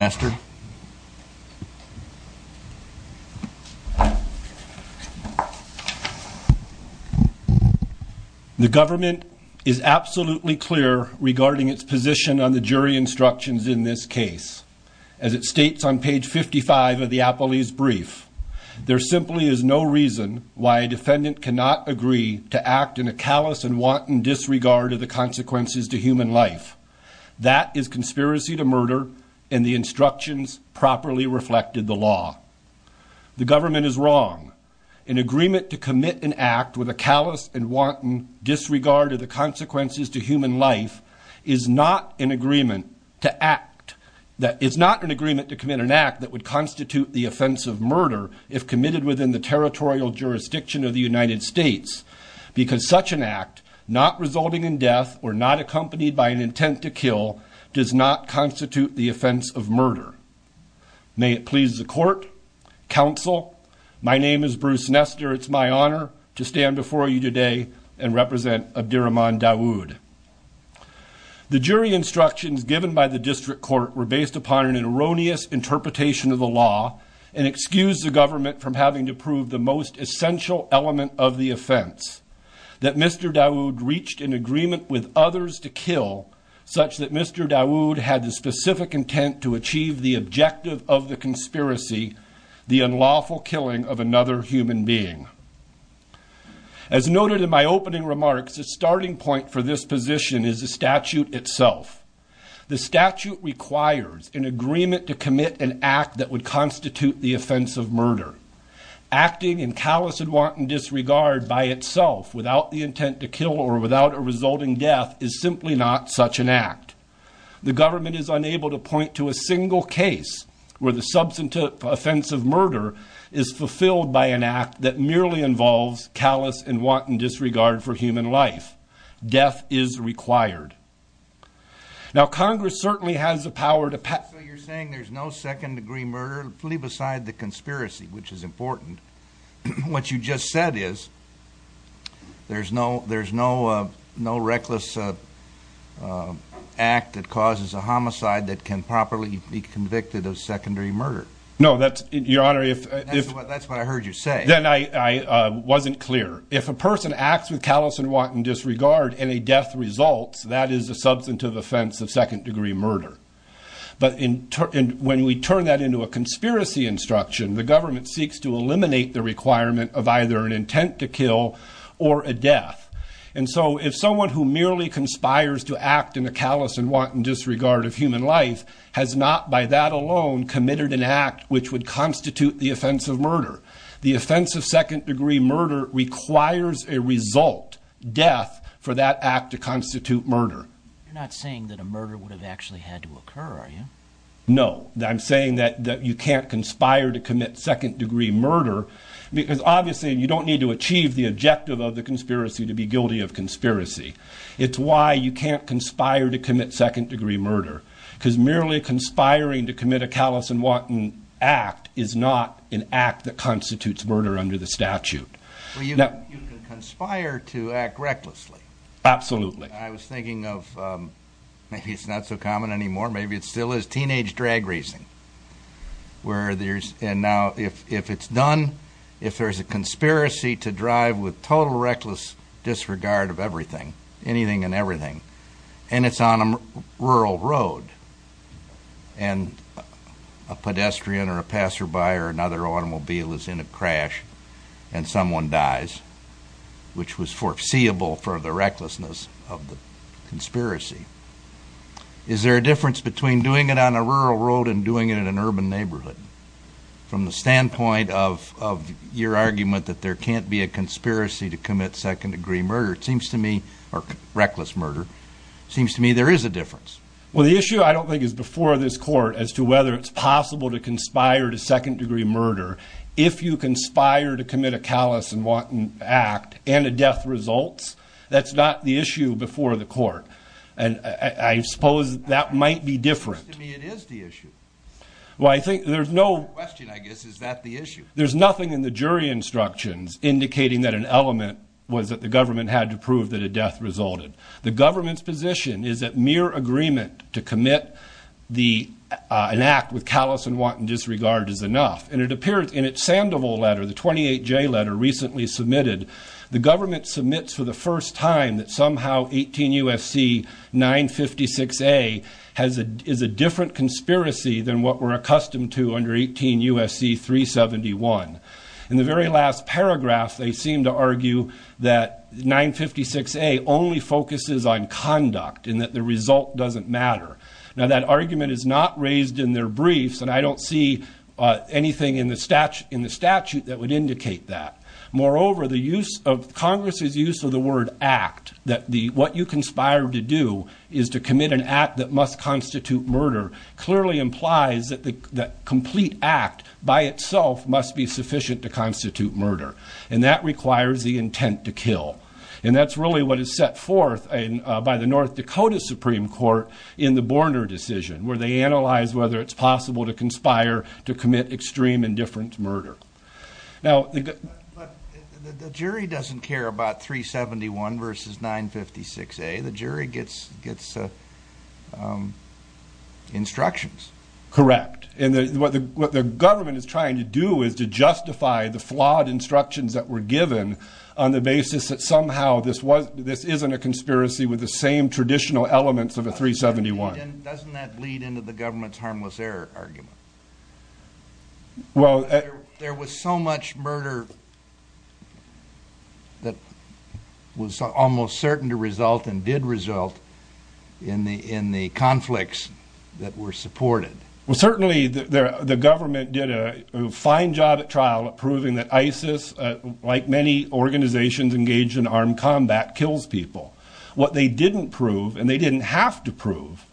Master, the government is absolutely clear regarding its position on the jury instructions in this case. As it states on page 55 of the appellee's brief, there simply is no reason why a defendant cannot agree to act in a callous and wanton disregard of the consequences to human life is not an agreement to act, that is not an agreement to commit an act that would constitute the offense of murder if committed within the territorial jurisdiction of the United States, because such an act not resulting in death or not accompanied by an intent to kill does not constitute the offense of murder in the United States. May it please the court, counsel, my name is Bruce Nestor, it's my honor to stand before you today and represent Abdirahman Dawood. The jury instructions given by the district court were based upon an erroneous interpretation of the law and excused the government from having to prove the most essential element of the offense, that Mr. Dawood reached an agreement with others to kill such that Mr. Dawood had the specific intent to achieve the objective of the conspiracy, the unlawful killing of another human being. As noted in my opening remarks, the starting point for this position is the statute itself. The statute requires an agreement to commit an act that would constitute the offense of murder. Acting in callous and wanton disregard by itself, without the intent to kill or without a resulting death, is simply not such an act. The government is unable to point to a single case where the substantive offense of murder is fulfilled by an act that merely involves callous and wanton disregard for human life. Death is required. Now Congress certainly has the power to pass... So you're saying there's no second degree murder, leave aside the conspiracy, which is important. What you just said is there's no reckless act that causes a homicide that can properly be convicted of secondary murder. No, that's... Your Honor, if... That's what I heard you say. Then I wasn't clear. If a person acts with callous and wanton disregard and a death results, that is a substantive offense of second degree murder. But when we turn that into a conspiracy instruction, the government seeks to eliminate the requirement of either an intent to kill or a death. And so if someone who merely conspires to act in a callous and wanton disregard of human life has not by that alone committed an act which would constitute the offense of murder, the offense of second degree murder requires a result, death, for that act to constitute murder. You're not saying that a murder would have actually had to occur, are you? No. I'm saying that you can't conspire to commit second degree murder because obviously you don't need to achieve the objective of the conspiracy to be guilty of conspiracy. It's why you can't conspire to commit second degree murder because merely conspiring to commit a callous and wanton act is not an act that constitutes murder under the statute. You can conspire to act recklessly. Absolutely. I was thinking of, maybe it's not so common anymore, maybe it still is, teenage drag racing. And now if it's done, if there's a conspiracy to drive with total reckless disregard of everything, anything and everything, and it's on a rural road and a pedestrian or a passerby or another automobile is in a crash and someone dies, which was foreseeable for the recklessness of the conspiracy, is there a difference between doing it on a rural road and doing it in an urban neighborhood? From the standpoint of your argument that there can't be a conspiracy to commit second degree murder, it seems to me, or reckless murder, seems to me there is a difference. Well, the issue I don't think is before this court as to whether it's possible to conspire to second degree murder if you conspire to commit a callous and wanton act and a death results. That's not the issue before the court. And I suppose that might be different. It seems to me it is the issue. Well, I think there's no question, I guess, is that the issue? There's nothing in the jury instructions indicating that an element was that the government had to prove that a death resulted. The government's position is that mere agreement to commit an act with callous and wanton disregard is enough. And it appears in its Sandoval letter, the 28J letter recently submitted, the government submits for the first time that somehow 18 U.S.C. 956A is a different conspiracy than what we're accustomed to under 18 U.S.C. 371. In the very last paragraph, they seem to argue that 956A only focuses on conduct and that the result doesn't matter. Now, that argument is not raised in their briefs and I don't see anything in the statute that would indicate that. Moreover, Congress's use of the word act, that what you conspire to do is to commit an act that must constitute murder, clearly implies that the complete act by itself must be sufficient to constitute murder. And that requires the intent to kill. And that's really what is set forth by the North Dakota Supreme Court in the Borner decision, where they analyze whether it's possible to conspire to commit extreme indifference murder. Now... But the jury doesn't care about 371 versus 956A. The jury gets instructions. Correct. And what the government is trying to do is to justify the flawed instructions that were given on the basis that somehow this wasn't, this isn't a conspiracy with the same traditional elements of the 371. Doesn't that lead into the government's harmless error argument? Well... There was so much murder that was almost certain to result and did result in the conflicts that were supported. Well, certainly the government did a fine job at trial at proving that ISIS, like many organizations engaged in armed combat, kills people. What they didn't prove, and they didn't have to prove,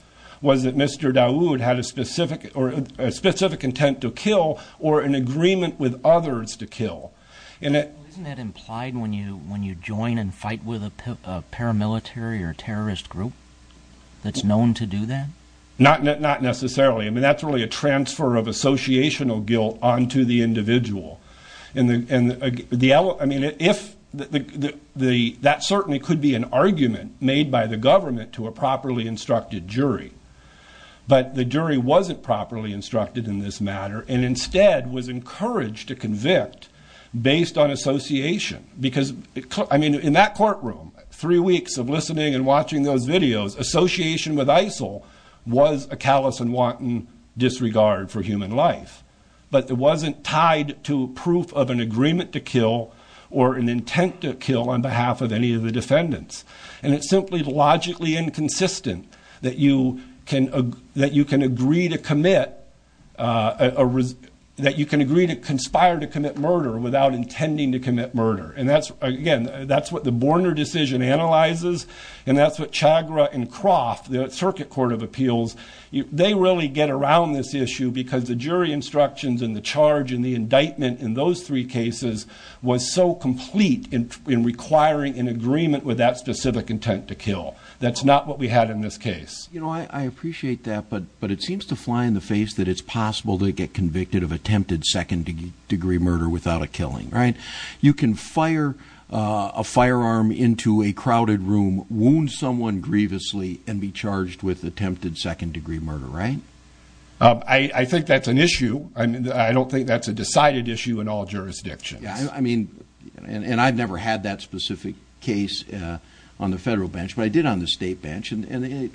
was that Mr. Dawood had a specific intent to kill or an agreement with others to kill. And it... Isn't that implied when you join and fight with a paramilitary or terrorist group that's known to do that? Not necessarily. I mean, that's really a individual. I mean, that certainly could be an argument made by the government to a properly instructed jury. But the jury wasn't properly instructed in this matter and instead was encouraged to convict based on association. Because, I mean, in that courtroom, three weeks of listening and watching those videos, association with ISIL was a callous and wanton disregard for human life. But it wasn't tied to proof of an agreement to kill or an intent to kill on behalf of any of the defendants. And it's simply logically inconsistent that you can agree to commit... That you can agree to conspire to commit murder without intending to commit murder. And that's, again, that's what the Borner decision analyzes, and that's what Chagra and Croft, the Circuit Court of Appeals, they really get around this issue because the jury instructions and the charge and the indictment in those three cases was so complete in requiring an agreement with that specific intent to kill. That's not what we had in this case. You know, I appreciate that, but it seems to fly in the face that it's possible to get convicted of attempted second-degree murder without a killing, right? You can fire a firearm into a crowded room, wound someone grievously, and be charged with attempted second-degree murder, right? I think that's an issue. I don't think that's a decided issue in all jurisdictions. I mean, and I've never had that specific case on the federal bench, but I did on the state bench, and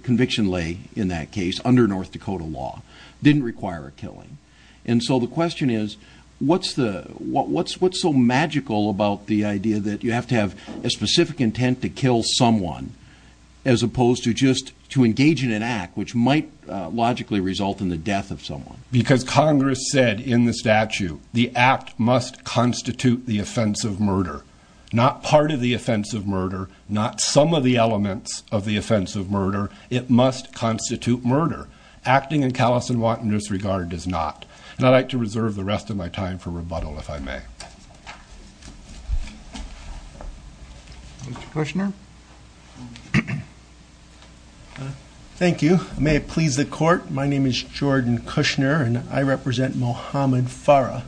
conviction lay in that case under North Dakota law. Didn't require a killing. And so the question is, what's the... What's so magical about the idea that you have to have a specific intent to kill someone as opposed to just to engage in an act which might logically result in the death of someone? Because Congress said in the statute, the act must constitute the offense of murder. Not part of the offense of murder, not some of the elements of the offense of murder. It must constitute murder. Acting in callous and wanton disregard does not. And I'd like to reserve the rest of my time for rebuttal, if I may. Mr. Kushner? Thank you. May it please the court, my name is Jordan Kushner, and I represent Mohamed Farah.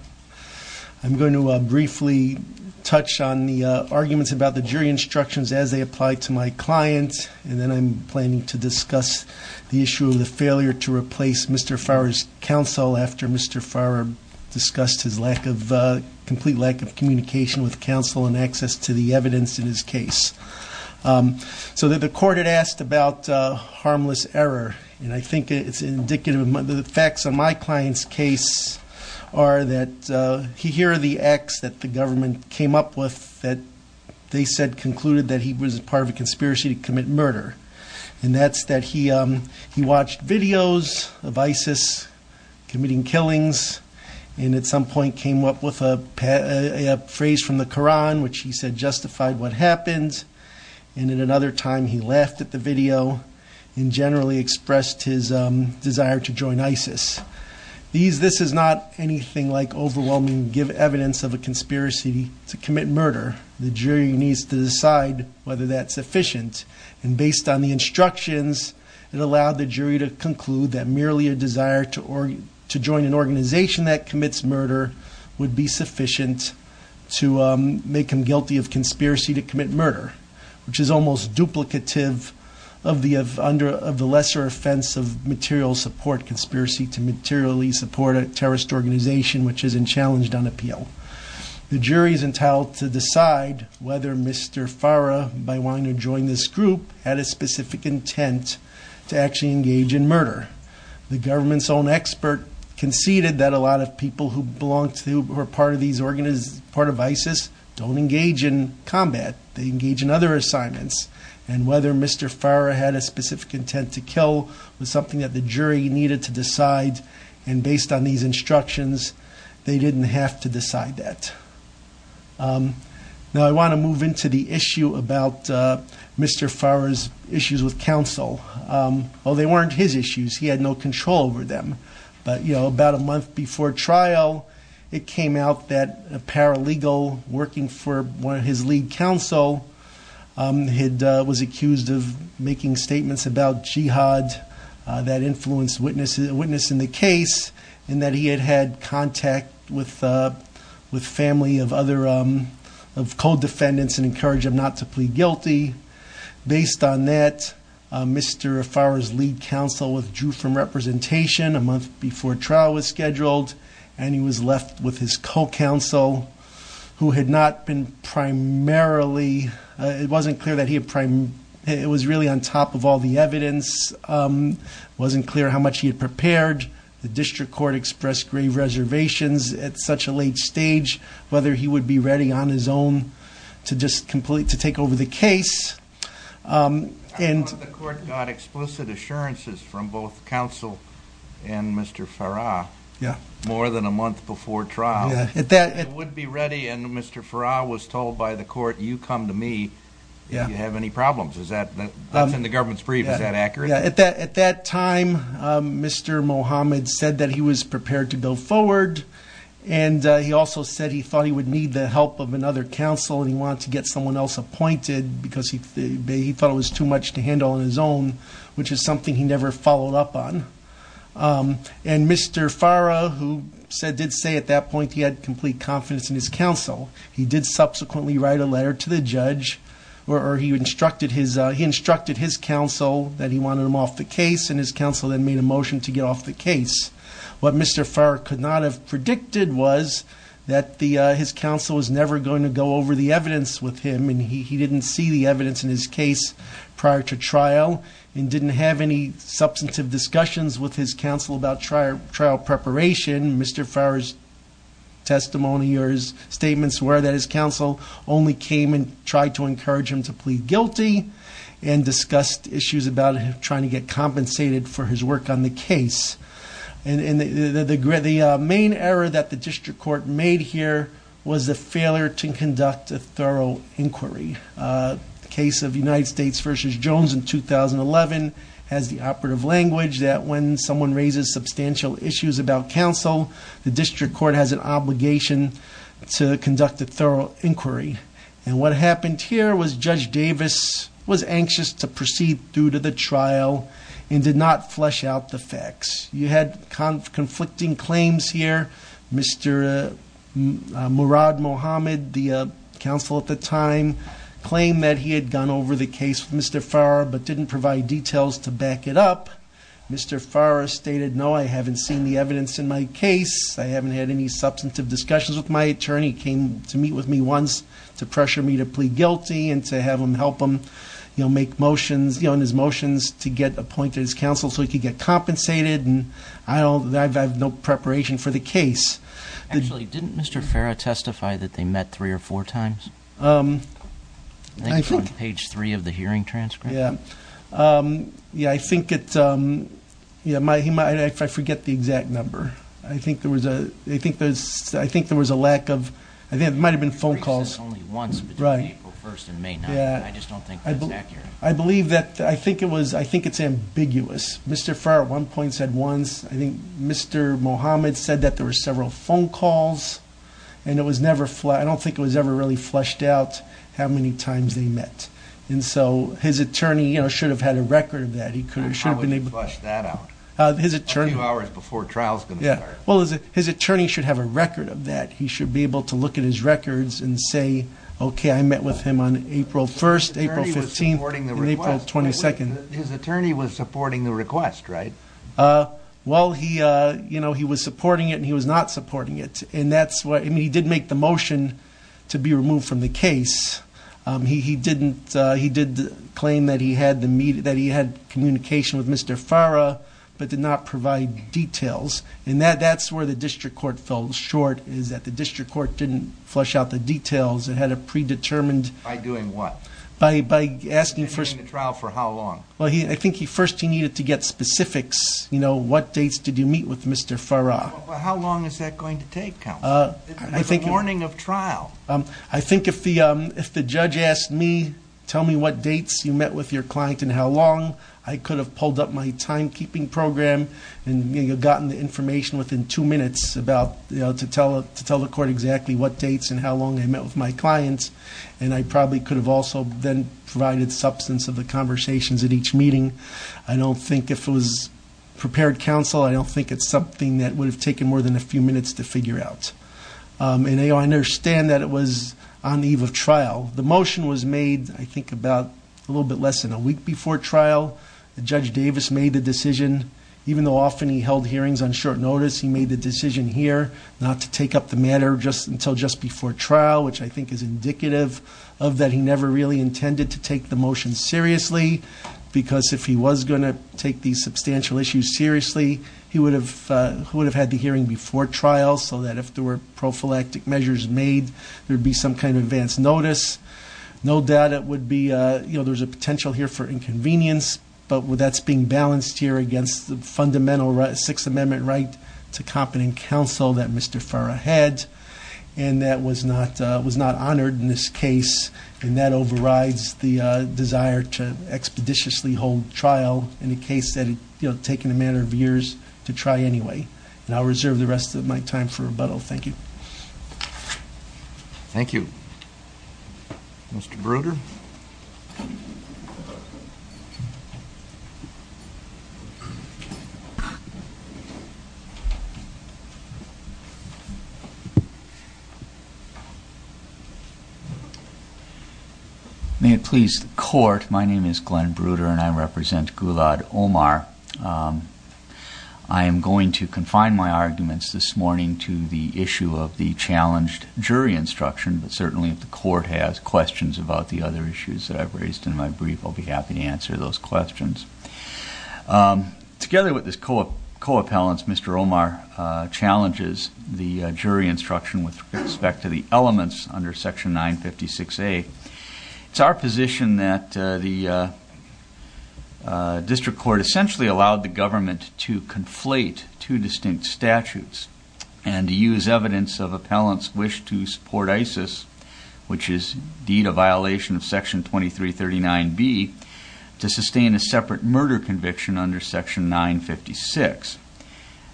I'm going to briefly touch on the arguments about the jury instructions as they apply to my client, and then I'm planning to discuss the issue of the failure to replace Mr. Farah's complete lack of communication with counsel and access to the evidence in his case. So the court had asked about harmless error, and I think it's indicative of... The facts on my client's case are that here are the acts that the government came up with that they said concluded that he was part of a conspiracy to commit murder. And that's that he watched videos of ISIS committing killings, and at some point came up with a phrase from the Quran which he said justified what happened, and at another time he laughed at the video and generally expressed his desire to join ISIS. This is not anything like overwhelming evidence of a conspiracy to commit murder. The jury needs to decide whether that's sufficient, and based on the instructions, it allowed the jury to conclude that merely a desire to join an organization that commits murder would be sufficient to make him guilty of conspiracy to commit murder, which is almost duplicative of the lesser offense of material support conspiracy to materially support a terrorist organization which is unchallenged on appeal. The jury is entitled to decide whether Mr. Farah, by wanting to join this group, had a specific intent to actually engage in murder. The government's own expert conceded that a lot of people who belong to or are part of ISIS don't engage in combat. They engage in other assignments, and whether Mr. Farah had a specific intent to kill was something that the jury needed to decide, and based on these instructions, they didn't have to decide that. Now I want to move into the issue about Mr. Farah's issues with counsel. Well, they weren't his issues. He had no control over them, but you know, about a month before trial, it came out that a paralegal working for one of his lead counsel was accused of making statements about jihad that influenced a witness in the case, and that he had had contact with family of co-defendants and encouraged them not to plead guilty. Based on that, Mr. Farah's lead counsel withdrew from representation a month before trial was scheduled, and he was left with his co-counsel, who had not been primarily, it wasn't clear that he had, it was really on top of all the evidence. It wasn't clear how much he had prepared. The district court expressed grave reservations at such a late stage, whether he would be ready on his own to just complete, to take over the case, and... I thought the court got explicit assurances from both counsel and Mr. Farah more than a month before trial. Yeah. It would be ready, and Mr. Farah was told by the court, you come to me if you have any questions, and the government's brief, is that accurate? At that time, Mr. Mohamed said that he was prepared to go forward, and he also said he thought he would need the help of another counsel, and he wanted to get someone else appointed because he thought it was too much to handle on his own, which is something he never followed up on. And Mr. Farah, who did say at that point he had complete confidence in his counsel, he did subsequently write a letter to the judge, or he instructed his counsel that he wanted him off the case, and his counsel then made a motion to get off the case. What Mr. Farah could not have predicted was that his counsel was never going to go over the evidence with him, and he didn't see the evidence in his case prior to trial, and didn't have any substantive discussions with his counsel about trial preparation. Mr. Farah's testimony or his statements were that his counsel only came and tried to encourage him to plead guilty, and discussed issues about him trying to get compensated for his work on the case. The main error that the district court made here was the failure to conduct a thorough inquiry. The case of United States v. Jones in 2011 has the operative language that when someone raises substantial issues about counsel, the district court has an obligation to conduct a thorough inquiry. And what happened here was Judge Davis was anxious to proceed due to the trial, and did not flesh out the facts. You had conflicting claims here. Mr. Murad Mohammed, the counsel at the time, claimed that he had gone over the case with Mr. Farah, but didn't provide details to back it up. Mr. Farah stated, no, I haven't seen the evidence in my case. I haven't had any substantive discussions with my attorney. He came to meet with me once to pressure me to plead guilty, and to have him help him make motions, his motions to get appointed as counsel so he could get compensated. I have no preparation for the case. Actually, didn't Mr. Farah testify that they met three or four times? I think it's on page three of the hearing transcript. Yeah, I think it's, I forget the exact number. I think there was a lack of, I think it might have been phone calls. He raised it only once between April 1st and May 9th. I just don't think that's accurate. I believe that, I think it's ambiguous. Mr. Farah at one point said once, I think Mr. Mohammed said that there were several phone calls, and I don't think it was ever really a request. And so his attorney should have had a record of that. He could have, should have been able to- How would you flush that out? His attorney- A few hours before trial's going to start. Well, his attorney should have a record of that. He should be able to look at his records and say, okay, I met with him on April 1st, April 15th, and April 22nd. His attorney was supporting the request, right? Well, he was supporting it, and he was not supporting it. And that's why, I mean, he did make the motion to be removed from the case. He did claim that he had communication with Mr. Farah, but did not provide details. And that's where the district court fell short, is that the district court didn't flush out the details. It had a predetermined- By doing what? By asking first- And he was in the trial for how long? Well, I think first he needed to get specifics. What dates did you meet with Mr. Farah? How long is that going to take, counsel? With a warning of trial? I think if the judge asked me, tell me what dates you met with your client and how long, I could have pulled up my timekeeping program and gotten the information within two minutes about, to tell the court exactly what dates and how long I met with my client. And I probably could have also then provided substance of the conversations at each meeting. I don't think if it was prepared, counsel, I don't think it's something that would have taken more than a few minutes to figure out. And I understand that it was on the eve of trial. The motion was made, I think, about a little bit less than a week before trial. Judge Davis made the decision, even though often he held hearings on short notice, he made the decision here not to take up the matter until just before trial, which I think is indicative of that he never really intended to take the motion seriously. Because if he was going to take these substantial issues seriously, he would have had the hearing before trial so that if there were prophylactic measures made, there would be some kind of advance notice. No doubt it would be, there's a potential here for inconvenience, but that's being balanced here against the fundamental Sixth Amendment right to competent counsel that Mr. Farra had. And that was not honored in this case, and that overrides the desire to expeditiously hold trial in a case that had taken a matter of years to try anyway. And I'll reserve the rest of my time for rebuttal. Thank you. Thank you. Mr. Bruder? May it please the court, my name is Glenn Bruder and I represent Gulad Omar. I am going to confine my arguments this morning to the issue of the challenged jury instruction, but certainly if the court has questions about the other issues that I've raised in my brief, I'll be happy to answer those questions. Together with his co-appellants, Mr. Omar challenges the jury instruction with respect to the elements under Section 956A. It's our position that the district court essentially allowed the government to conflate two distinct cases, which is indeed a violation of Section 2339B, to sustain a separate murder conviction under Section 956.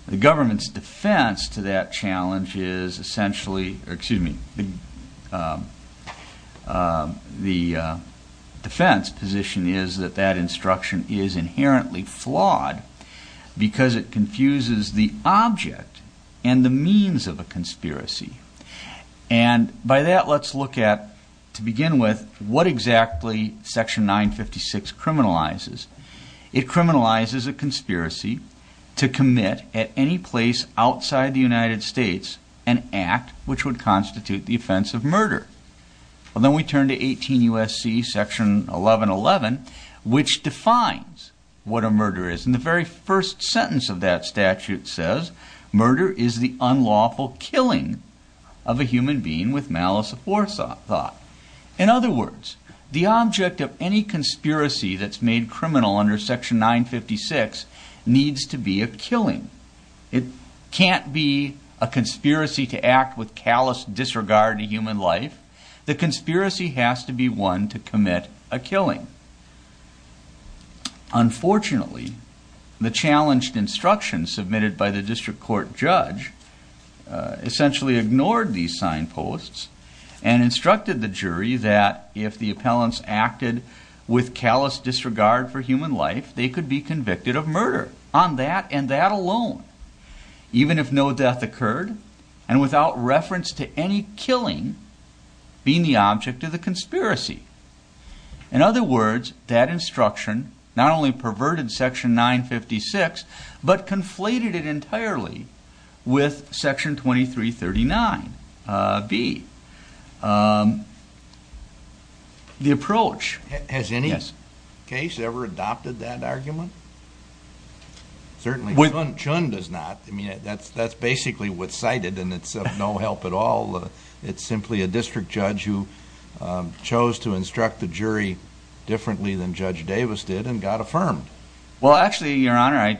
The government's defense to that challenge is essentially, excuse me, the defense position is that that instruction is inherently flawed because it confuses the two cases. By that, let's look at, to begin with, what exactly Section 956 criminalizes. It criminalizes a conspiracy to commit at any place outside the United States an act which would constitute the offense of murder. Well then we turn to 18 U.S.C. Section 1111, which defines what a murder is. And the very first sentence of that statute says, murder is the unlawful killing of a human being with malice of forethought. In other words, the object of any conspiracy that's made criminal under Section 956 needs to be a killing. It can't be a conspiracy to act with callous disregard to human life. The conspiracy has to be one to commit a killing. Unfortunately, the challenged instruction submitted by the judge essentially ignored these signposts and instructed the jury that if the appellants acted with callous disregard for human life, they could be convicted of murder on that and that alone, even if no death occurred and without reference to any killing being the object of the conspiracy. In other words, that instruction not only perverted Section 956, but conflated it entirely with Section 2339B. The approach... Has any case ever adopted that argument? Certainly Chun does not. That's basically what's cited and it's of no help at all. It's simply a district judge who chose to instruct the jury differently than Judge Davis did and got affirmed. Well, actually, Your Honor, I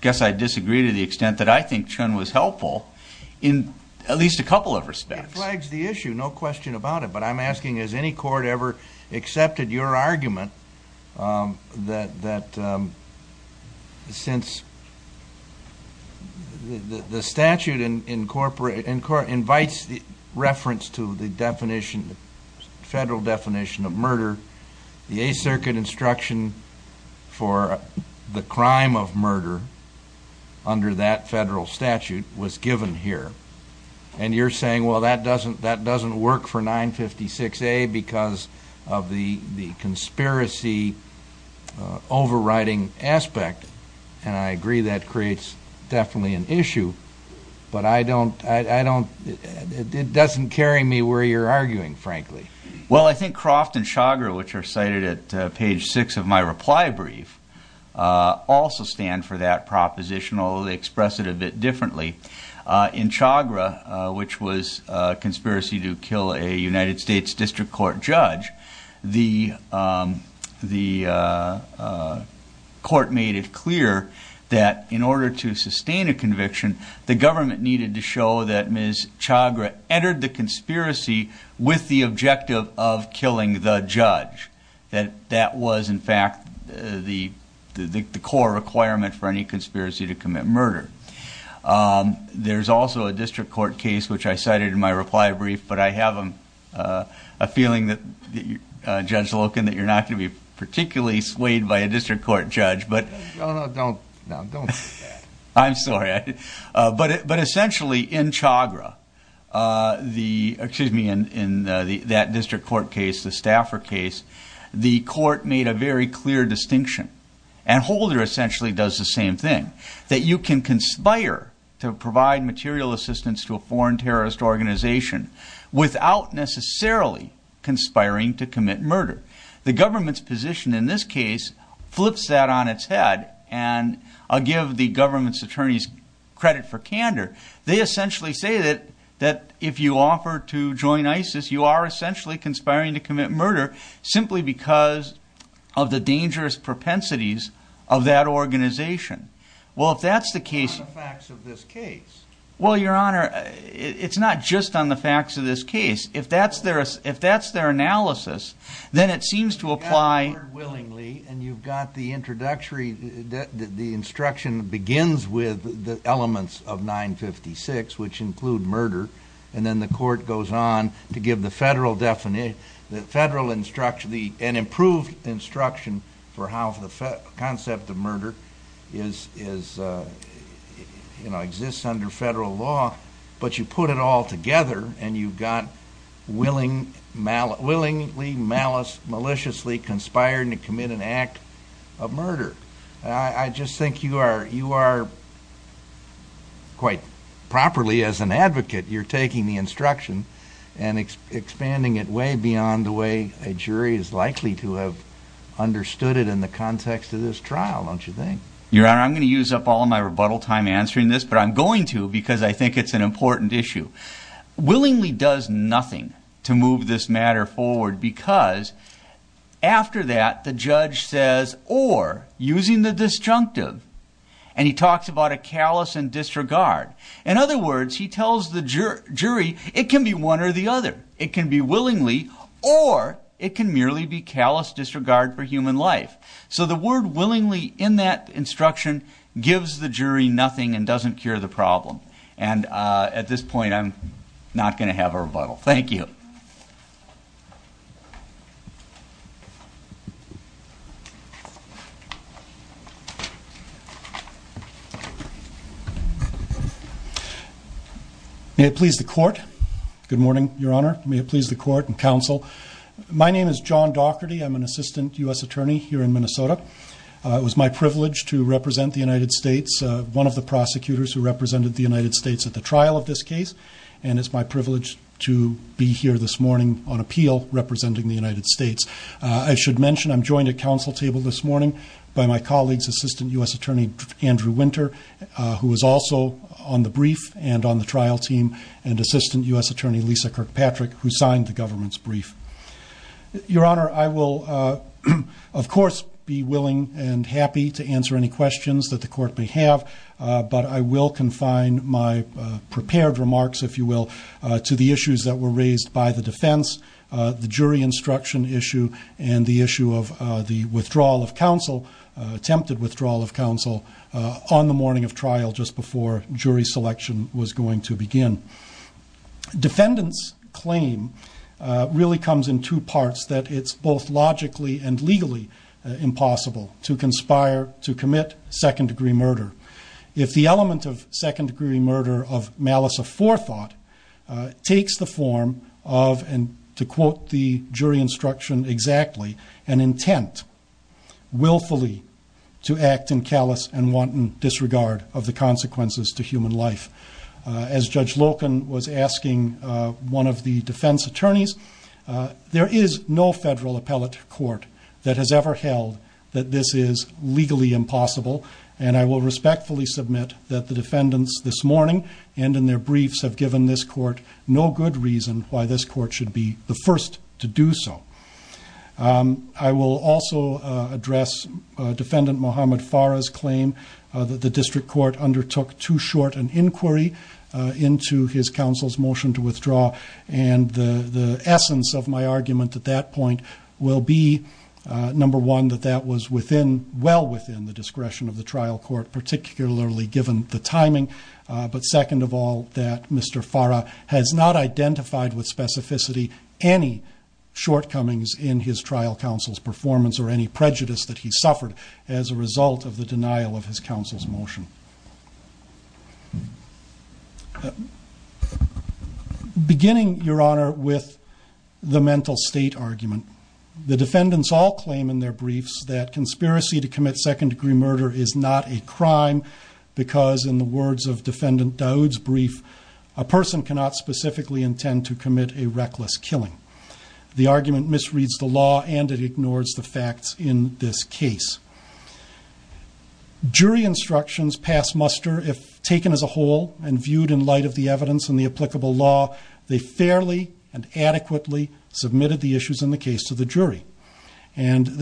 guess I disagree to the extent that I think Chun was helpful in at least a couple of respects. It flags the issue, no question about it, but I'm asking has any court ever accepted your argument that, since the statute invites reference to the definition, the federal definition of murder, the Eighth Circuit instruction for the crime of murder under that federal statute was given here and you're saying, well, that doesn't work for 956A because of the conspiracy overriding aspect and I agree that creates definitely an issue, but it doesn't carry me where you're arguing, frankly. Well, I think Croft and Chagra, which are cited at page six of my reply brief, also stand for that proposition, although they express it a bit differently. In Chagra, which was a conspiracy to kill a United States District Court judge, the court made it clear that in order to sustain a conviction, the government needed to show that Ms. Chagra entered the conspiracy with the objective of killing the judge, that that was, in fact, the core requirement for any conspiracy to commit murder. There's also a district court case, which I cited in my reply brief, but I have a feeling that, Judge Loken, that you're not going to be particularly swayed by a district court judge, but... Essentially, in Chagra, excuse me, in that district court case, the Stafford case, the court made a very clear distinction and Holder essentially does the same thing, that you can conspire to provide material assistance to a foreign terrorist organization without necessarily conspiring to commit murder. The government's position in this case flips that on its head, and I'll give the government's attorneys credit for candor. They essentially say that if you offer to join ISIS, you are essentially conspiring to commit murder simply because of the dangerous propensities of that organization. Well, if that's the case... It's not on the facts of this case. Well, Your Honor, it's not just on the facts of this case. If that's their analysis, then it seems to apply... You've got the introductory... The instruction begins with the elements of 956, which include murder, and then the court goes on to give the federal definition, the federal instruction, an improved instruction for how the concept of murder exists under federal law, but you put it all together and you've got willingly, maliciously conspiring to commit an act of murder. I just think you are quite properly, as an advocate, you're taking the instruction and expanding it way beyond the way a jury is likely to have understood it in the context of this trial, don't you think? Your Honor, I'm going to use up all of my rebuttal time answering this, but I'm going to because I think it's an important issue. Willingly does nothing to move this matter forward because after that, the judge says, or using the disjunctive, and he talks about a callous and disregard. In other words, he tells the jury, it can be one or the other. It can be willingly or it can merely be callous disregard for human life. The word willingly in that instruction gives the jury nothing and doesn't cure the problem. At this point, I'm not going to have a rebuttal. Thank you. May it please the court. Good morning, Your Honor. May it please the court and counsel. My name is John Daugherty. I'm an assistant U.S. attorney here in Minnesota. It was my privilege to represent the United States, one of the prosecutors who represented the trial of this case, and it's my privilege to be here this morning on appeal representing the United States. I should mention I'm joined at council table this morning by my colleague's assistant U.S. attorney, Andrew Winter, who is also on the brief and on the trial team, and assistant U.S. attorney, Lisa Kirkpatrick, who signed the government's brief. Your Honor, I will, of course, be willing and happy to answer any questions that the prepared remarks, if you will, to the issues that were raised by the defense, the jury instruction issue, and the issue of the withdrawal of counsel, attempted withdrawal of counsel on the morning of trial just before jury selection was going to begin. Defendant's claim really comes in two parts, that it's both logically and legally impossible to conspire to commit second-degree murder if the element of second-degree murder of malice of forethought takes the form of, and to quote the jury instruction exactly, an intent willfully to act in callous and wanton disregard of the consequences to human life. As Judge Loken was asking one of the defense attorneys, there is no federal appellate court that has ever held that this is legally impossible, and I will respectfully submit that the defendants this morning and in their briefs have given this court no good reason why this court should be the first to do so. I will also address Defendant Mohamed Farah's claim that the district court undertook too short an inquiry into his counsel's motion to withdraw, and the essence of my argument at that point will be, number one, that that was well within the discretion of the trial court, particularly given the timing, but second of all, that Mr. Farah has not identified with specificity any shortcomings in his trial counsel's performance or any prejudice that he suffered as a result of the denial of his counsel's motion. Beginning, Your Honor, with the mental state argument, the defendants all claim in their briefs that conspiracy to commit second degree murder is not a crime because in the words of Defendant Daud's brief, a person cannot specifically intend to commit a reckless killing. The argument misreads the law and it ignores the facts in this case. Jury instructions pass muster if taken as a whole and viewed in light of the evidence and the applicable law, they fairly and adequately submitted the issues in the case to the jury, and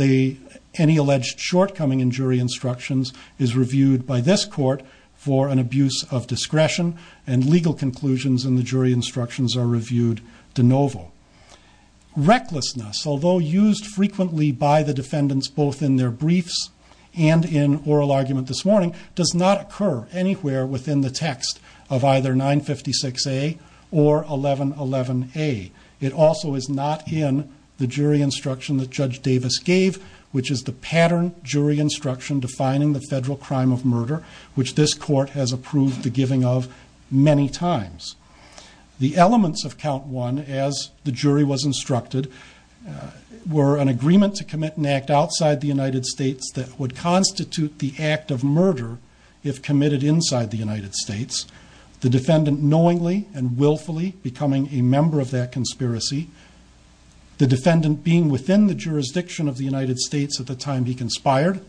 any alleged shortcoming in jury instructions is reviewed by this court for an abuse of discretion, and legal conclusions in the jury instructions are reviewed de novo. Recklessness, although used frequently by the defendants both in their briefs and in oral argument this morning, does not occur anywhere within the text of either 956A or 1111A. It also is not in the jury instruction that Judge Davis gave, which is the pattern jury instruction defining the federal crime of murder, which this court has approved the jury was instructed, were an agreement to commit an act outside the United States that would constitute the act of murder if committed inside the United States, the defendant knowingly and willfully becoming a member of that conspiracy, the defendant being within the jurisdiction of the United States at the time he conspired,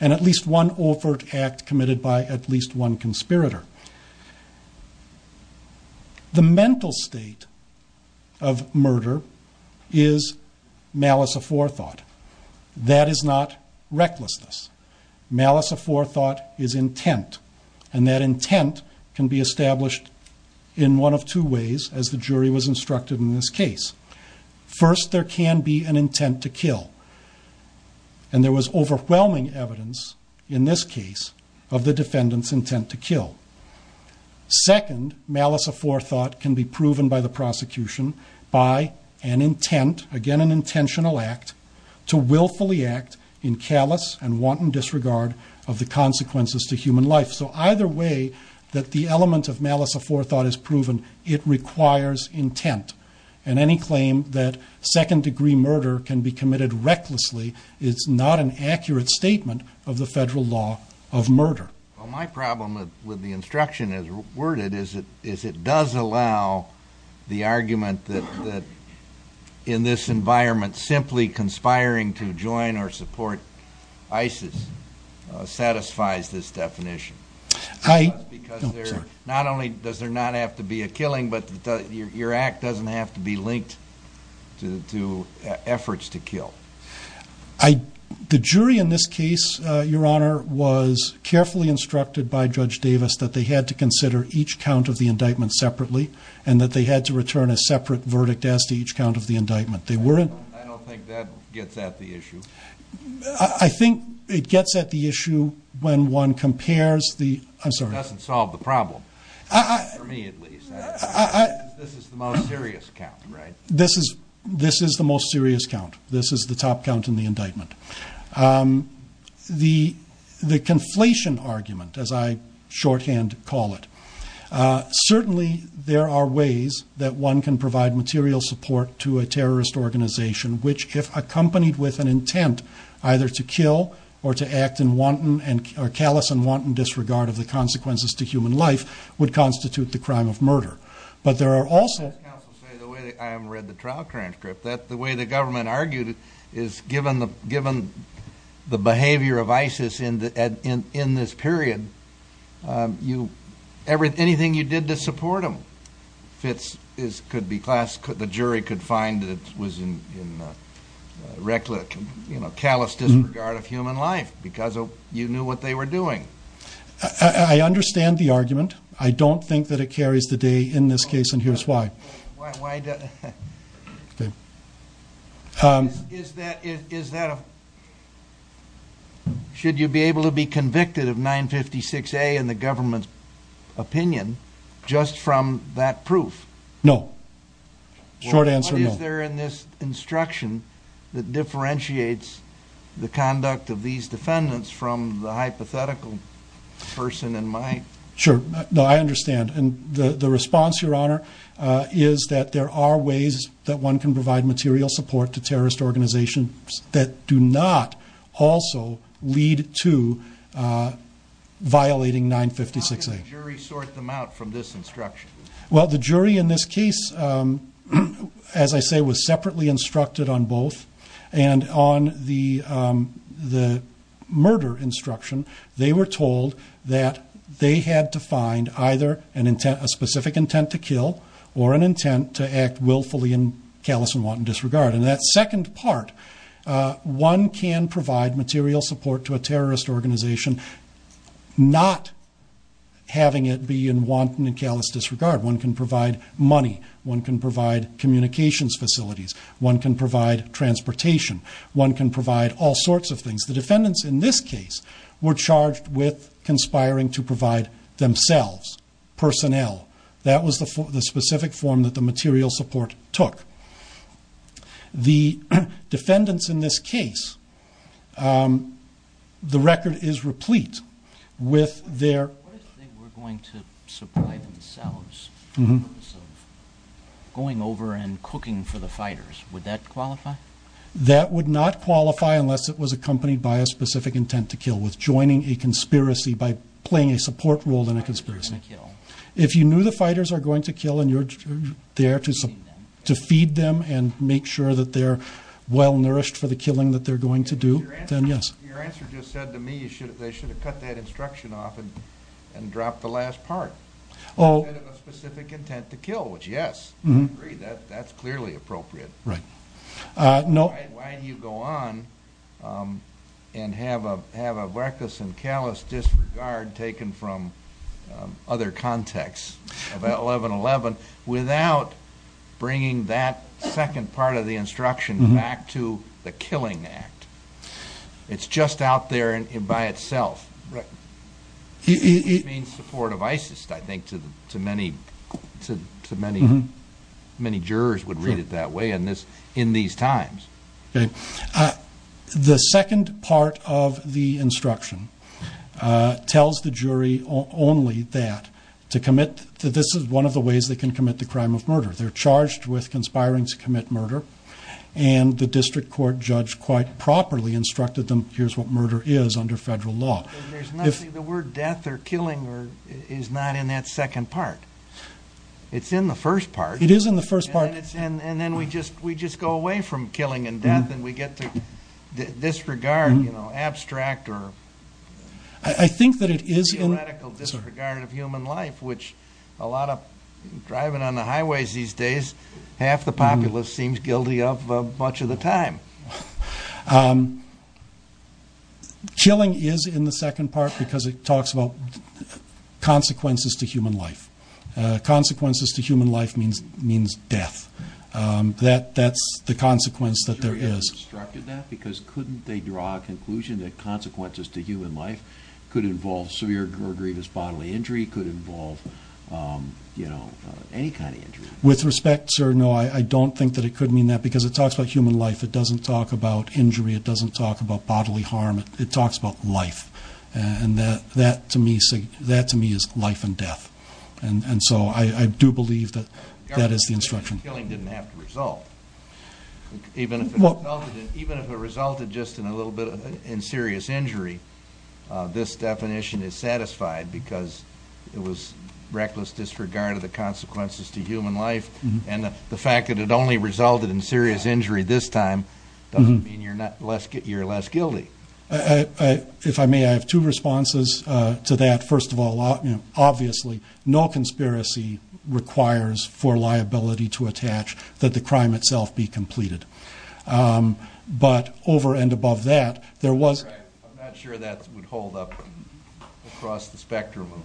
and at least one overt act committed by at The mental state of murder is malice of forethought. That is not recklessness. Malice of forethought is intent, and that intent can be established in one of two ways, as the jury was instructed in this case. First, there can be an intent to kill, and there was overwhelming evidence in this case of the defendant's intent to kill. Second, malice of forethought can be proven by the prosecution by an intent, again an intentional act, to willfully act in callous and wanton disregard of the consequences to human life. So either way that the element of malice of forethought is proven, it requires intent, and any claim that second degree murder can be committed recklessly is not an accurate statement of the federal law of murder. Well, my problem with the instruction as worded is it does allow the argument that in this environment simply conspiring to join or support ISIS satisfies this definition. I, no, sorry. Not only does there not have to be a killing, but your act doesn't have to be linked to efforts to kill. The jury in this case, your honor, was carefully instructed by Judge Davis that they had to consider each count of the indictment separately, and that they had to return a separate verdict as to each count of the indictment. I don't think that gets at the issue. I think it gets at the issue when one compares the, I'm sorry. It doesn't solve the problem, for me at least. This is the most serious count, right? This is the most serious count. This is the top count in the indictment. The conflation argument, as I shorthand call it, certainly there are ways that one can provide material support to a terrorist organization which, if accompanied with an intent either to kill or to act in callous and wanton disregard of the consequences to human life, would constitute the crime of murder. But there are also- As counsel said, I haven't read the trial transcript. The way the government argued it is given the behavior of ISIS in this period, anything you did to support them, Fitz, the jury could find that it was in reckless, callous disregard of human life because you knew what they were doing. I understand the argument. I don't think that it carries the day in this case and here's why. Why does- Okay. Is that a- should you be able to be convicted of 956A in the government's opinion just from that proof? No. Short answer, no. What is there in this instruction that differentiates the conduct of these defendants from the hypothetical person in my- Sure. No, I understand. And the response, Your Honor, is that there are ways that one can provide material support to terrorist organizations that do not also lead to violating 956A. How can a jury sort them out from this instruction? Well, the jury in this case, as I say, was separately instructed on both. And on the murder instruction, they were told that they had to find either a specific intent to kill or an intent to act willfully in callous and wanton disregard. And that second part, one can provide material support to a terrorist organization not having it be in wanton and callous disregard. One can provide money. One can provide communications facilities. One can provide transportation. One can provide all sorts of things. The defendants in this case were charged with conspiring to provide themselves, personnel. That was the specific form that the material support took. The defendants in this case, the record is replete with their- Would that qualify? That would not qualify unless it was accompanied by a specific intent to kill, with joining a conspiracy by playing a support role in a conspiracy. If you knew the fighters are going to kill and you're there to feed them and make sure that they're well nourished for the killing that they're going to do, then yes. Your answer just said to me they should have cut that instruction off and dropped the last part. Instead of a specific intent to kill, which yes, I agree, that's clearly appropriate. Why do you go on and have a varkas and callous disregard taken from other contexts of 1111 without bringing that second part of the instruction back to the killing act? It's just out there by itself. Right. It means support of ISIS, I think, to many jurors would read it that way in these times. Okay. The second part of the instruction tells the jury only that to commit, this is one of the ways they can commit the crime of murder. They're charged with conspiring to commit murder. And the district court judge quite properly instructed them, here's what murder is under federal law. There's nothing, the word death or killing is not in that second part. It's in the first part. It is in the first part. And then we just go away from killing and death and we get to disregard, abstract or- I think that it is in- Theoretical disregard of human life, which a lot of driving on the highways these days, half the populace seems guilty of much of the time. Killing is in the second part because it talks about consequences to human life. Consequences to human life means death. That's the consequence that there is. The jury has instructed that because couldn't they draw a conclusion that consequences to human life could involve severe or grievous bodily injury, could involve any kind of injury? With respect, sir, no, I don't think that it could mean that because it talks about human life. It doesn't talk about injury. It doesn't talk about bodily harm. It talks about life. And that to me is life and death. And so I do believe that that is the instruction. Killing didn't have to result. Even if it resulted just in a little bit in serious injury, this definition is satisfied because it was reckless disregard of the consequences to human life. And the fact that it only resulted in serious injury this time doesn't mean you're less guilty. If I may, I have two responses to that. First of all, obviously, no conspiracy requires for liability to attach that the crime itself be completed. But over and above that, there was- All right, I'm not sure that would hold up across the spectrum of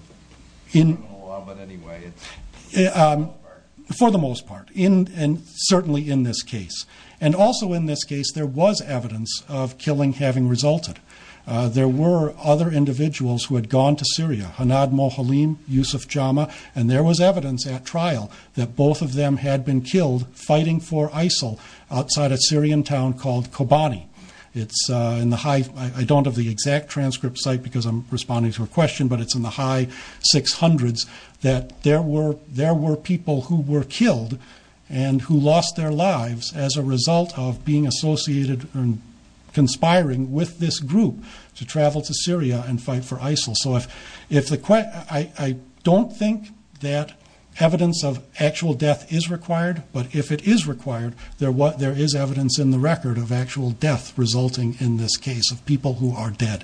criminal law, but anyway, it's- For the most part. For the most part, and certainly in this case. And also in this case, there was evidence of killing having resulted. There were other individuals who had gone to Syria, Hanad Mohalim, Yusuf Jama, and there was evidence at trial that both of them had been killed fighting for ISIL outside a Syrian town called Kobani. It's in the high, I don't have the exact transcript site because I'm responding to a question, but there were people who were killed and who lost their lives as a result of being associated and conspiring with this group to travel to Syria and fight for ISIL. So if the, I don't think that evidence of actual death is required, but if it is required, there is evidence in the record of actual death resulting in this case of people who are dead.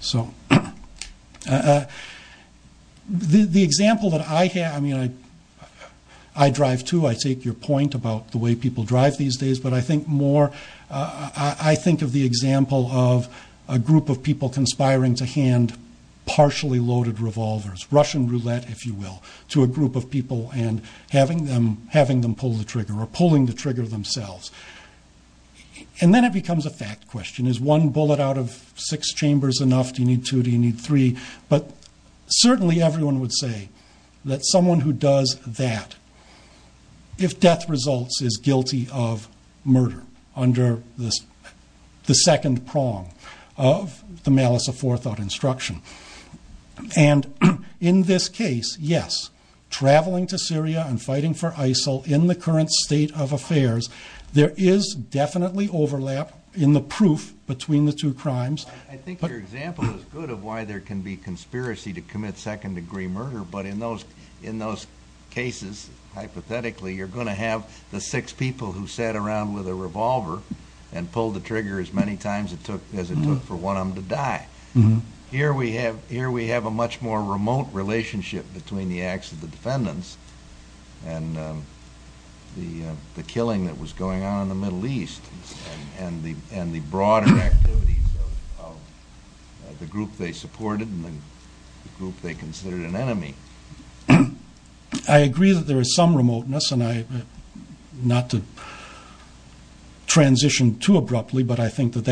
So the example that I have, I mean, I drive too, I take your point about the way people drive these days, but I think more, I think of the example of a group of people conspiring to hand partially loaded revolvers, Russian roulette, if you will, to a group of people and having them pull the trigger or pulling the trigger themselves. And then it becomes a fact question, is one bullet out of six chambers enough? Do you need two? Do you need three? But certainly everyone would say that someone who does that, if death results, is guilty of murder under the second prong of the malice of forethought instruction. And in this case, yes, traveling to Syria and there is definitely overlap in the proof between the two crimes. I think your example is good of why there can be conspiracy to commit second degree murder, but in those cases, hypothetically, you're going to have the six people who sat around with a revolver and pulled the trigger as many times as it took for one of them to die. Here we have a much more remote relationship between the acts of the defendants and the killing that was going on in the Middle East and the broader activities of the group they supported and the group they considered an enemy. I agree that there is some remoteness and I, not to transition too abruptly, but I think that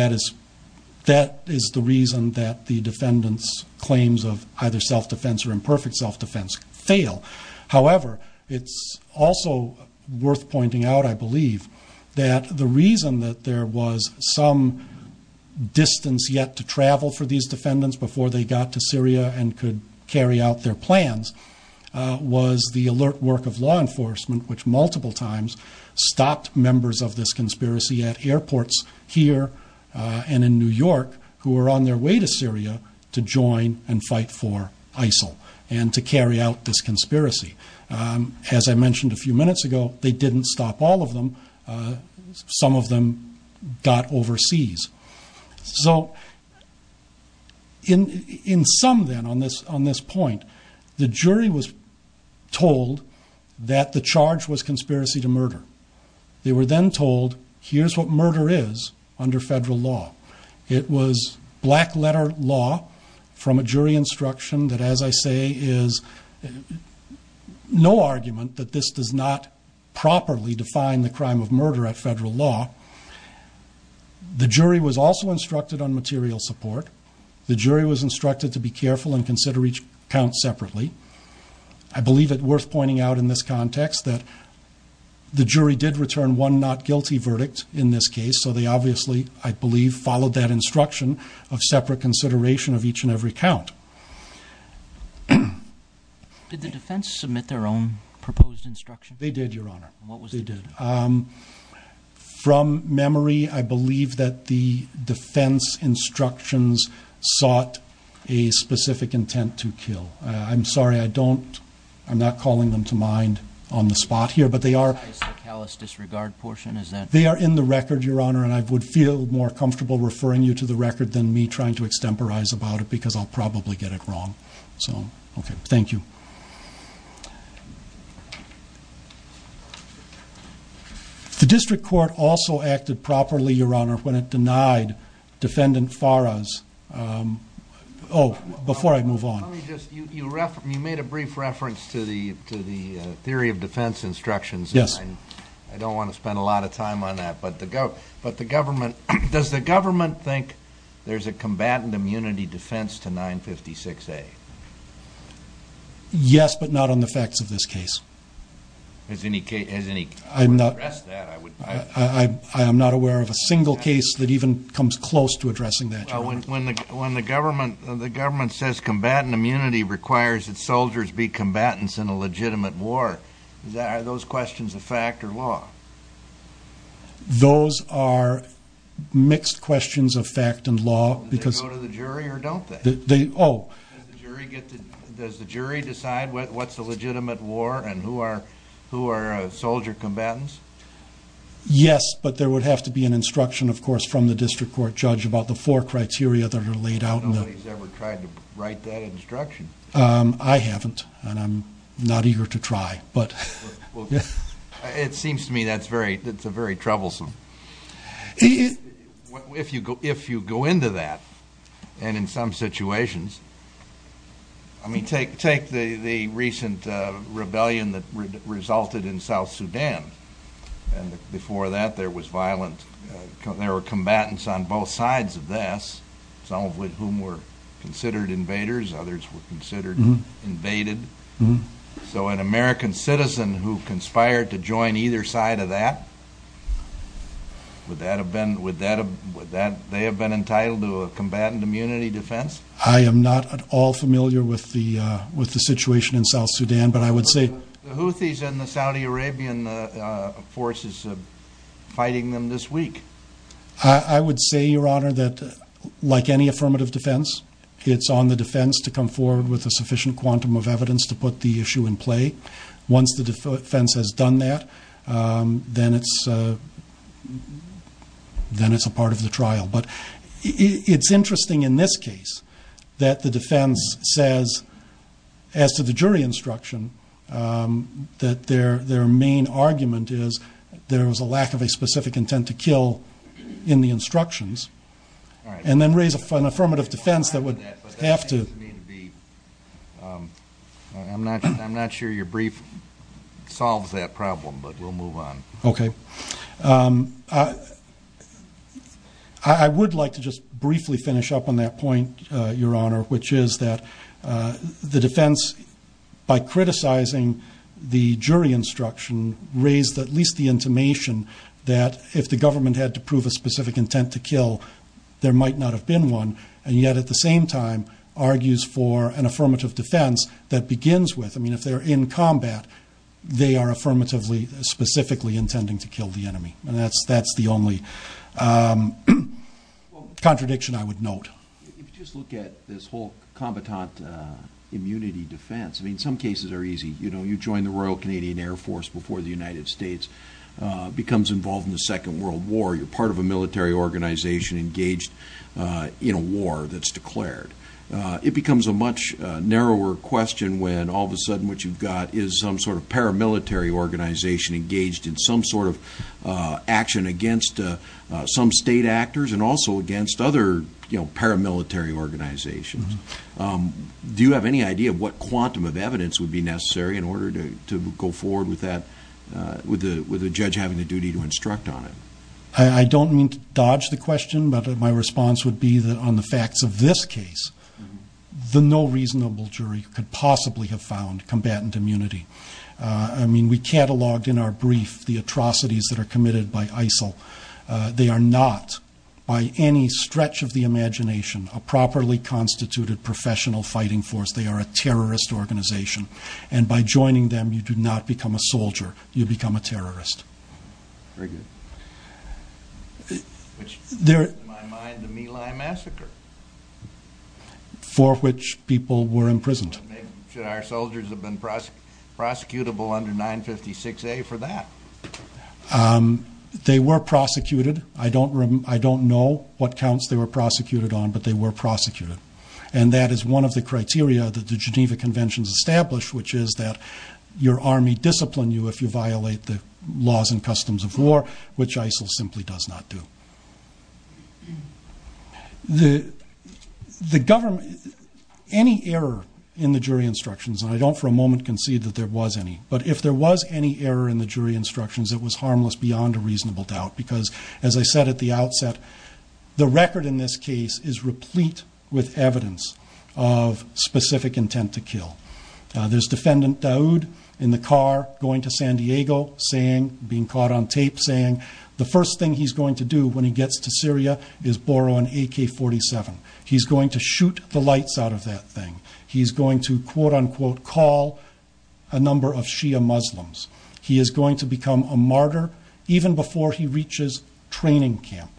that is the reason that the defendants' claims of either self-defense or imperfect self-defense fail. However, it's also worth pointing out, I believe, that the reason that there was some distance yet to travel for these defendants before they got to Syria and could carry out their plans was the alert work of law enforcement, which multiple times stopped members of this conspiracy at airports here and in New York who were on their way to Syria to join and fight for ISIL and to carry out this conspiracy. As I mentioned a few minutes ago, they didn't stop all of them. Some of them got overseas. So in sum then on this point, the jury was told that the charge was conspiracy to murder. They were then told, here's what murder is under federal law. It was black letter law from a jury instruction that, as I say, is no argument that this does not properly define the crime of murder at federal law. The jury was also instructed on material support. The jury was instructed to be careful and consider each count separately. I believe it worth pointing out in this context that the jury did return one not guilty verdict in this case. So they obviously, I believe, followed that instruction of separate consideration of each and every count. Did the defense submit their own proposed instruction? They did, your honor. What was it? From memory, I believe that the defense instructions sought a specific intent to kill. I'm sorry, I'm not calling them to mind on the spot here, but they are- Is the callous disregard portion, is that- They are in the record, your honor, and I would feel more comfortable referring you to the record than me trying to extemporize about it, because I'll probably get it wrong. So, okay, thank you. The district court also acted properly, your honor, when it denied defendant Farah's, before I move on. Let me just, you made a brief reference to the theory of defense instructions. Yes. I don't want to spend a lot of time on that, but the government, does the government think there's a combatant immunity defense to 956A? Yes, but not on the facts of this case. Is any case, has any- I'm not- I would address that, I would- I am not aware of a single case that even comes close to addressing that, your honor. When the government says combatant immunity requires that soldiers be combatants in a legitimate war, are those questions of fact or law? Those are mixed questions of fact and law, because- Do they go to the jury or don't they? They, oh- Does the jury get to, does the jury decide what's a legitimate war and who are soldier combatants? Yes, but there would have to be an instruction, of course, from the district court judge about the four criteria that are laid out in the- I don't know if he's ever tried to write that instruction. I haven't, and I'm not eager to try. Well, it seems to me that's very, that's a very troublesome. If you go into that, and in some situations, I mean, take the recent rebellion that resulted in South Sudan, and before that there was violent, there were combatants on both sides of this, some of whom were considered invaders, others were considered invaded. So an American citizen who conspired to join either side of that, would that have been, would that, they have been entitled to a combatant immunity defense? I am not at all familiar with the situation in South Sudan, but I would say- The Houthis and the Saudi Arabian forces fighting them this week. I would say, your honor, that like any affirmative defense, it's on the defense to come forward with a sufficient quantum of evidence to put the issue in play. Once the defense has done that, then it's a part of the trial. But it's interesting in this case that the defense says, as to the jury instruction, that their main argument is there was a lack of a specific intent to kill in the instructions. All right. And then raise an affirmative defense that would have to- But that seems to me to be, I'm not sure your brief solves that problem, but we'll move on. Okay. I would like to just briefly finish up on that point, your honor, which is that the defense, by criticizing the jury instruction, raised at least the intimation that if the government had to prove a specific intent to kill, there might not have been one, and yet at the same time argues for an affirmative defense that begins with, I mean, if they're in combat, they are affirmatively specifically intending to kill the enemy. And that's the only contradiction I would note. If you just look at this whole combatant immunity defense, I mean, some cases are easy. You join the Royal Canadian Air Force before the United States becomes involved in the Second World War. You're part of a military organization engaged in a war that's declared. It becomes a much narrower question when all of a sudden what you've got is some sort of paramilitary organization engaged in some sort of action against some state actors and also against other paramilitary organizations. Do you have any idea of what quantum of evidence would be necessary in order to go forward with the judge having the duty to instruct on it? I don't mean to dodge the question, but my response would be that on the facts of this case, the no reasonable jury could possibly have found combatant immunity. I mean, we cataloged in our brief the atrocities that are committed by ISIL. They are not, by any stretch of the imagination, a properly constituted professional fighting force. They are a terrorist organization. And by joining them, you do not become a soldier, you become a terrorist. Very good. Which in my mind, the My Lai Massacre. For which people were imprisoned. Should our soldiers have been prosecutable under 956A for that? They were prosecuted. I don't know what counts they were prosecuted on, but they were prosecuted. And that is one of the criteria that the Geneva Conventions established, which is that your army discipline you if you violate the laws and customs of war, which ISIL simply does not do. Any error in the jury instructions, and I don't for a moment concede that there was any, but if there was any error in the jury instructions, it was harmless beyond a reasonable doubt. As I said at the outset, the record in this case is replete with evidence of specific intent to kill. There's defendant Daoud in the car going to San Diego, being caught on tape saying, the first thing he's going to do when he gets to Syria is borrow an AK-47. He's going to shoot the lights out of that thing. He's going to, quote unquote, call a number of Shia Muslims. He is going to become a martyr even before he reaches training camp.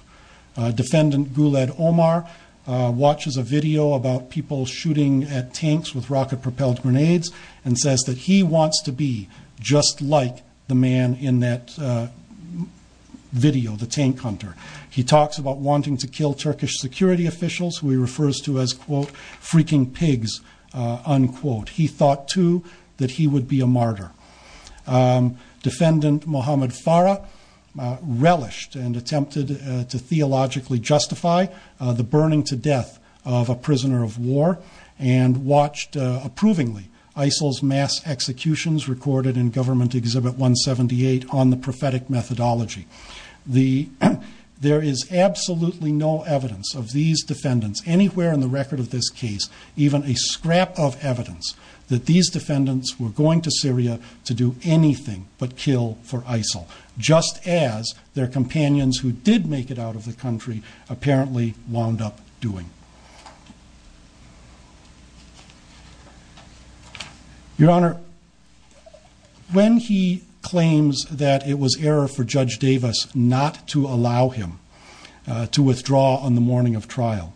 Defendant Guled Omar watches a video about people shooting at tanks with rocket propelled grenades and says that he wants to be just like the man in that video, the tank hunter. He talks about wanting to kill Turkish security officials who he refers to as, quote, freaking pigs, unquote. He thought too that he would be a martyr. Defendant Mohamed Farah relished and attempted to theologically justify the burning to death of a prisoner of war and watched approvingly ISIL's mass executions recorded in government exhibit 178 on the prophetic methodology. There is absolutely no evidence of these defendants anywhere in the record of this case, even a scrap of evidence that these defendants were going to Syria to do anything but kill for ISIL, just as their companions who did make it out of the country apparently wound up doing. Your Honor, when he claims that it was error for Judge Davis not to allow him to withdraw on the morning of trial,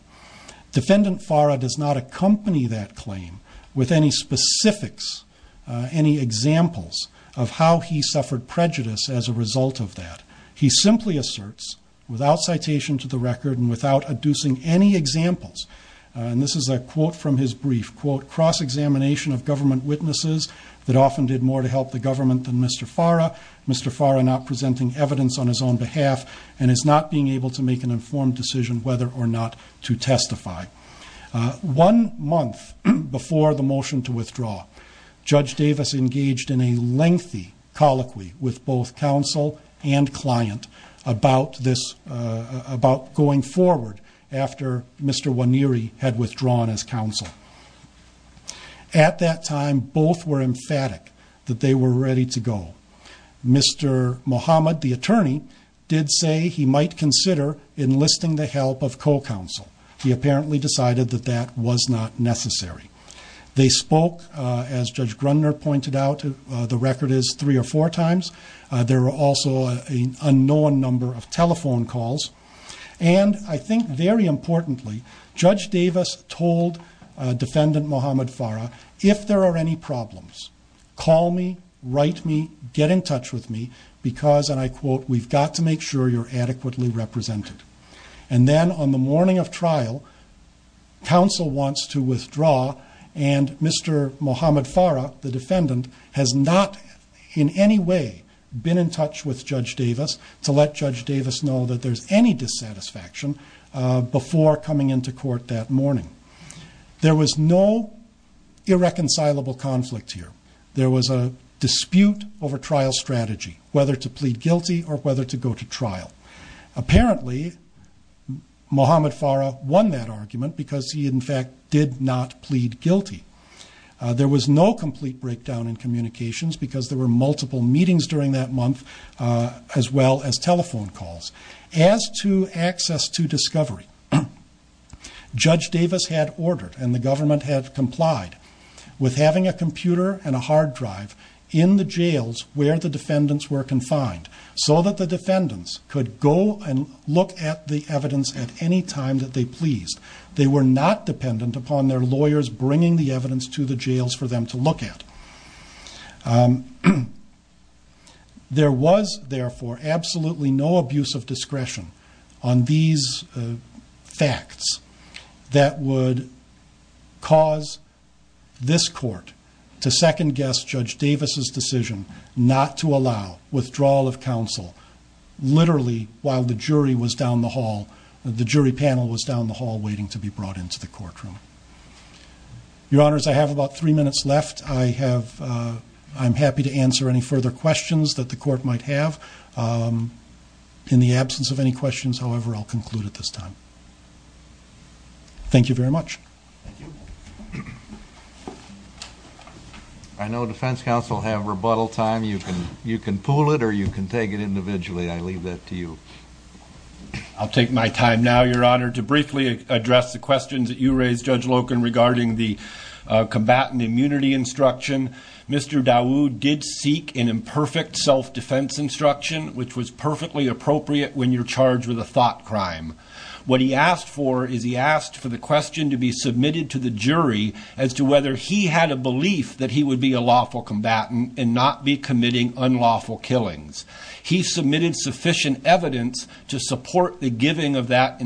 Defendant Farah does not accompany that claim with any specifics, any examples of how he suffered prejudice as a result of that. He simply asserts, without citation to the record and without adducing any examples, and this is a quote from his brief, quote, cross-examination of government witnesses that often did more to help the government than Mr. Farah, Mr. Farah not presenting evidence on his own behalf and is not being able to make an informed decision whether or not to testify. One month before the motion to withdraw, Judge Davis engaged in a lengthy colloquy with both counsel and client about this, about going forward after Mr. Waniri had withdrawn as counsel. At that time, both were emphatic that they were ready to go. Mr. Muhammad, the attorney, did say he might consider enlisting the help of co-counsel. He apparently decided that that was not necessary. They spoke, as Judge Grundner pointed out, the record is three or four times. There were also an unknown number of telephone calls, and I think very importantly, Judge Davis told Defendant Muhammad Farah, if there are any get in touch with me because, and I quote, we've got to make sure you're adequately represented. And then on the morning of trial, counsel wants to withdraw and Mr. Muhammad Farah, the defendant, has not in any way been in touch with Judge Davis to let Judge Davis know that there's any dissatisfaction before coming into court that morning. There was no irreconcilable conflict here. There was a dispute over trial strategy, whether to plead guilty or whether to go to trial. Apparently, Muhammad Farah won that argument because he in fact did not plead guilty. There was no complete breakdown in communications because there were multiple meetings during that month, as well as telephone calls. As to access to discovery, Judge Davis had ordered and the computer and a hard drive in the jails where the defendants were confined so that the defendants could go and look at the evidence at any time that they pleased. They were not dependent upon their lawyers bringing the evidence to the jails for them to look at. There was therefore absolutely no abuse of discretion on these facts that would cause this court to second guess Judge Davis's decision not to allow withdrawal of counsel, literally while the jury panel was down the hall waiting to be brought into the courtroom. Your honors, I have about three minutes left. I'm happy to answer any further questions that the court might have. In the absence of any questions, however, I'll conclude at this time. Thank you very much. I know defense counsel have rebuttal time. You can pool it or you can take it individually. I leave that to you. I'll take my time now, your honor, to briefly address the questions that you Mr. Dawood did seek an imperfect self-defense instruction, which was perfectly appropriate when you're charged with a thought crime. What he asked for is he asked for the question to be submitted to the jury as to whether he had a belief that he would be a lawful combatant and not be committing unlawful killings. He submitted sufficient evidence to support the giving of that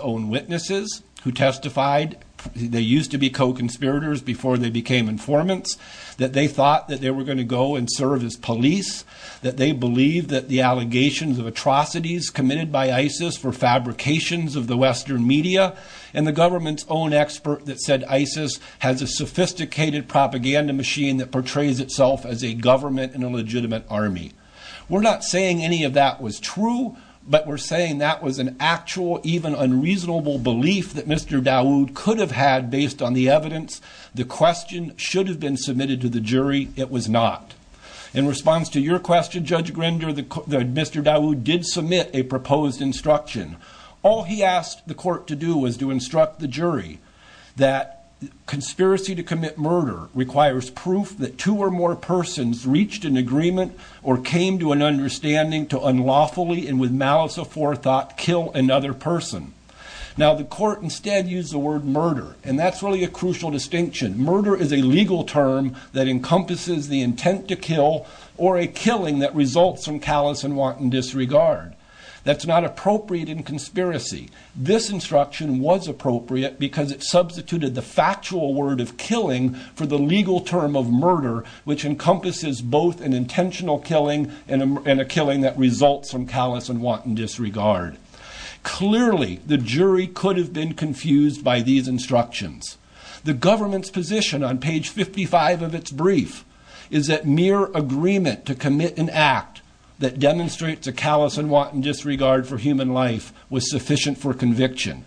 own witnesses who testified. They used to be co-conspirators before they became informants that they thought that they were going to go and serve as police, that they believe that the allegations of atrocities committed by ISIS for fabrications of the Western media and the government's own expert that said ISIS has a sophisticated propaganda machine that portrays itself as a government and a legitimate army. We're not saying any of that was true, but we're saying that was an actual even unreasonable belief that Mr. Dawood could have had based on the evidence. The question should have been submitted to the jury. It was not. In response to your question, Judge Grinder, Mr. Dawood did submit a proposed instruction. All he asked the court to do was to instruct the jury that conspiracy to commit murder requires proof that two or more persons reached an agreement or came to an understanding to unlawfully and malice of forethought kill another person. Now the court instead used the word murder, and that's really a crucial distinction. Murder is a legal term that encompasses the intent to kill or a killing that results from callous and wanton disregard. That's not appropriate in conspiracy. This instruction was appropriate because it substituted the factual word of killing for the legal term of murder, which encompasses both an intentional killing and a killing that is a callous and wanton disregard. Clearly, the jury could have been confused by these instructions. The government's position on page 55 of its brief is that mere agreement to commit an act that demonstrates a callous and wanton disregard for human life was sufficient for conviction.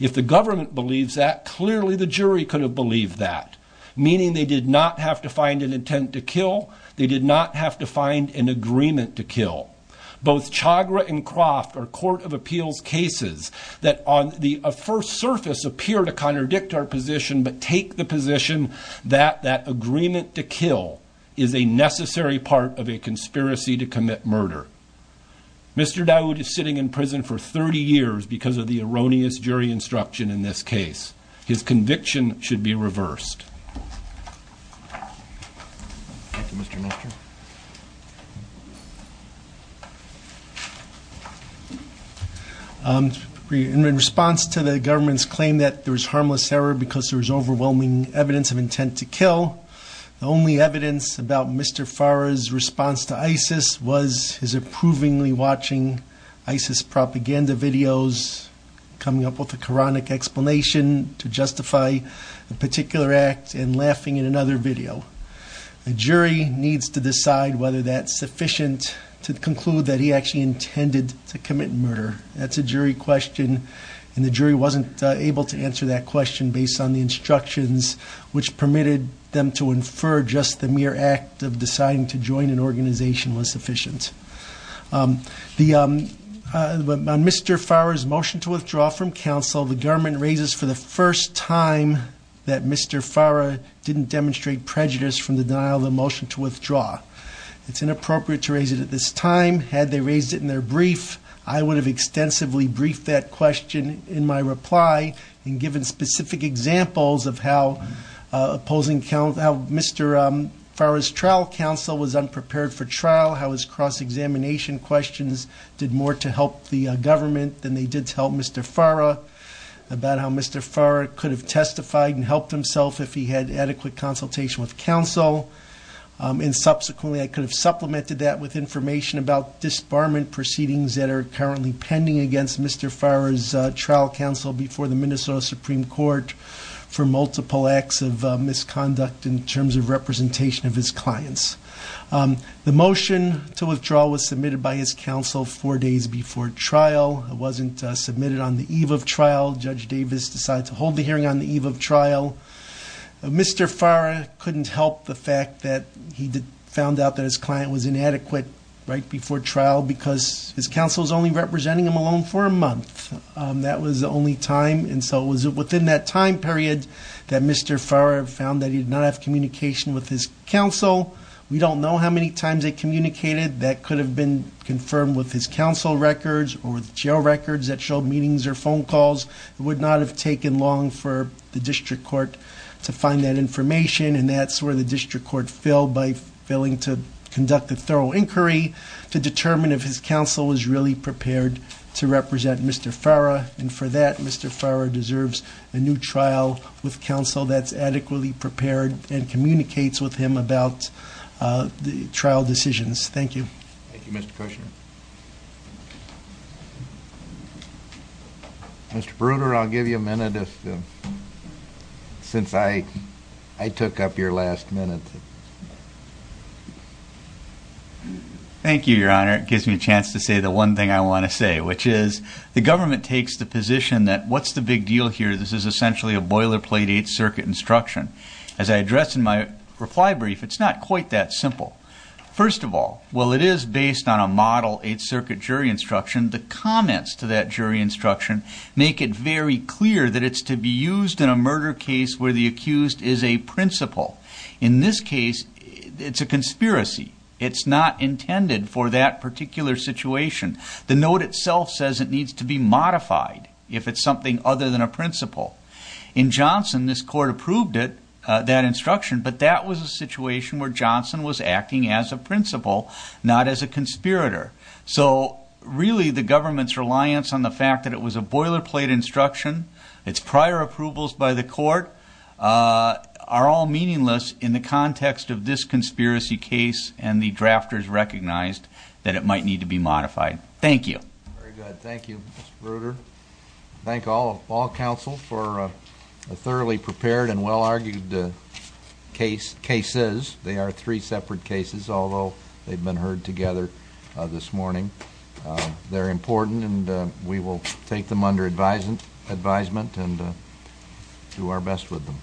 If the government believes that, clearly the jury could have believed that, meaning they did not have to find an intent to kill. They did not have to find an agreement to kill. Both Chagra and Croft are court of appeals cases that on the first surface appear to contradict our position, but take the position that that agreement to kill is a necessary part of a conspiracy to commit murder. Mr. Dawood is sitting in prison for 30 years because of the erroneous jury instruction in this case. His conviction should be reversed. Thank you, Mr. Minister. In response to the government's claim that there was harmless error because there was overwhelming evidence of intent to kill, the only evidence about Mr. Fara's response to ISIS was his approvingly watching ISIS propaganda videos, coming up with a Quranic explanation to justify the particular act and laughing in another video. The jury needs to decide whether that's sufficient to conclude that he actually intended to commit murder. That's a jury question and the jury wasn't able to answer that question based on the instructions which permitted them to infer just the mere act of deciding to join an organization was sufficient. On Mr. Fara's motion to withdraw from counsel, the government raises for the first time that Mr. Fara didn't demonstrate prejudice from the denial of the motion to withdraw. It's inappropriate to raise it at this time. Had they raised it in their brief, I would have extensively briefed that question in my reply and given specific examples of how Mr. Fara's trial counsel was unprepared for trial, how his cross-examination questions did more to help the government than they did to help Mr. Fara, about how Mr. Fara could have testified and helped himself if he had adequate consultation with counsel and subsequently I could have supplemented that with information about disbarment proceedings that are currently pending against Mr. Fara's trial counsel before the Minnesota Supreme Court for multiple acts of misconduct in terms of representation of his clients. The motion to disbar his counsel four days before trial wasn't submitted on the eve of trial. Judge Davis decided to hold the hearing on the eve of trial. Mr. Fara couldn't help the fact that he did found out that his client was inadequate right before trial because his counsel was only representing him alone for a month. That was the only time and so it was within that time period that Mr. Fara found that he did not have communication with his counsel. We don't know how many times they communicated. That could have been confirmed with his counsel records or the jail records that showed meetings or phone calls. It would not have taken long for the district court to find that information and that's where the district court failed by failing to conduct a thorough inquiry to determine if his counsel was really prepared to represent Mr. Fara and for that Mr. Fara deserves a new trial with counsel that's adequately prepared and communicates with him about the trial decisions. Thank you. Thank you Mr. Kushner. Mr. Bruder, I'll give you a minute since I took up your last minute. Thank you your honor. It gives me a chance to say the one thing I want to say which is the government takes the position that what's the big deal here? This is essentially a boilerplate Eighth Circuit instruction. As I addressed in my reply brief, it's not quite that simple. First of all, while it is based on a model Eighth Circuit jury instruction, the comments to that jury instruction make it very clear that it's to be used in a murder case where the accused is a principal. In this case, it's a conspiracy. It's not intended for that particular situation. The note itself says it needs to be modified if it's something other than a principal. In Johnson, this court approved it, that instruction, but that was a situation where Johnson was acting as a principal, not as a conspirator. So really the government's reliance on the fact that it was a boilerplate instruction, its prior approvals by the court are all meaningless in the context of this conspiracy case and the drafters recognized that it might need to be modified. Thank you. Very good. Thank you Mr. Bruder. Thank all of all counsel for a thoroughly prepared and well-argued cases. They are three separate cases, although they've been heard together this morning. They're important and we will take them under advisement and do our best with them.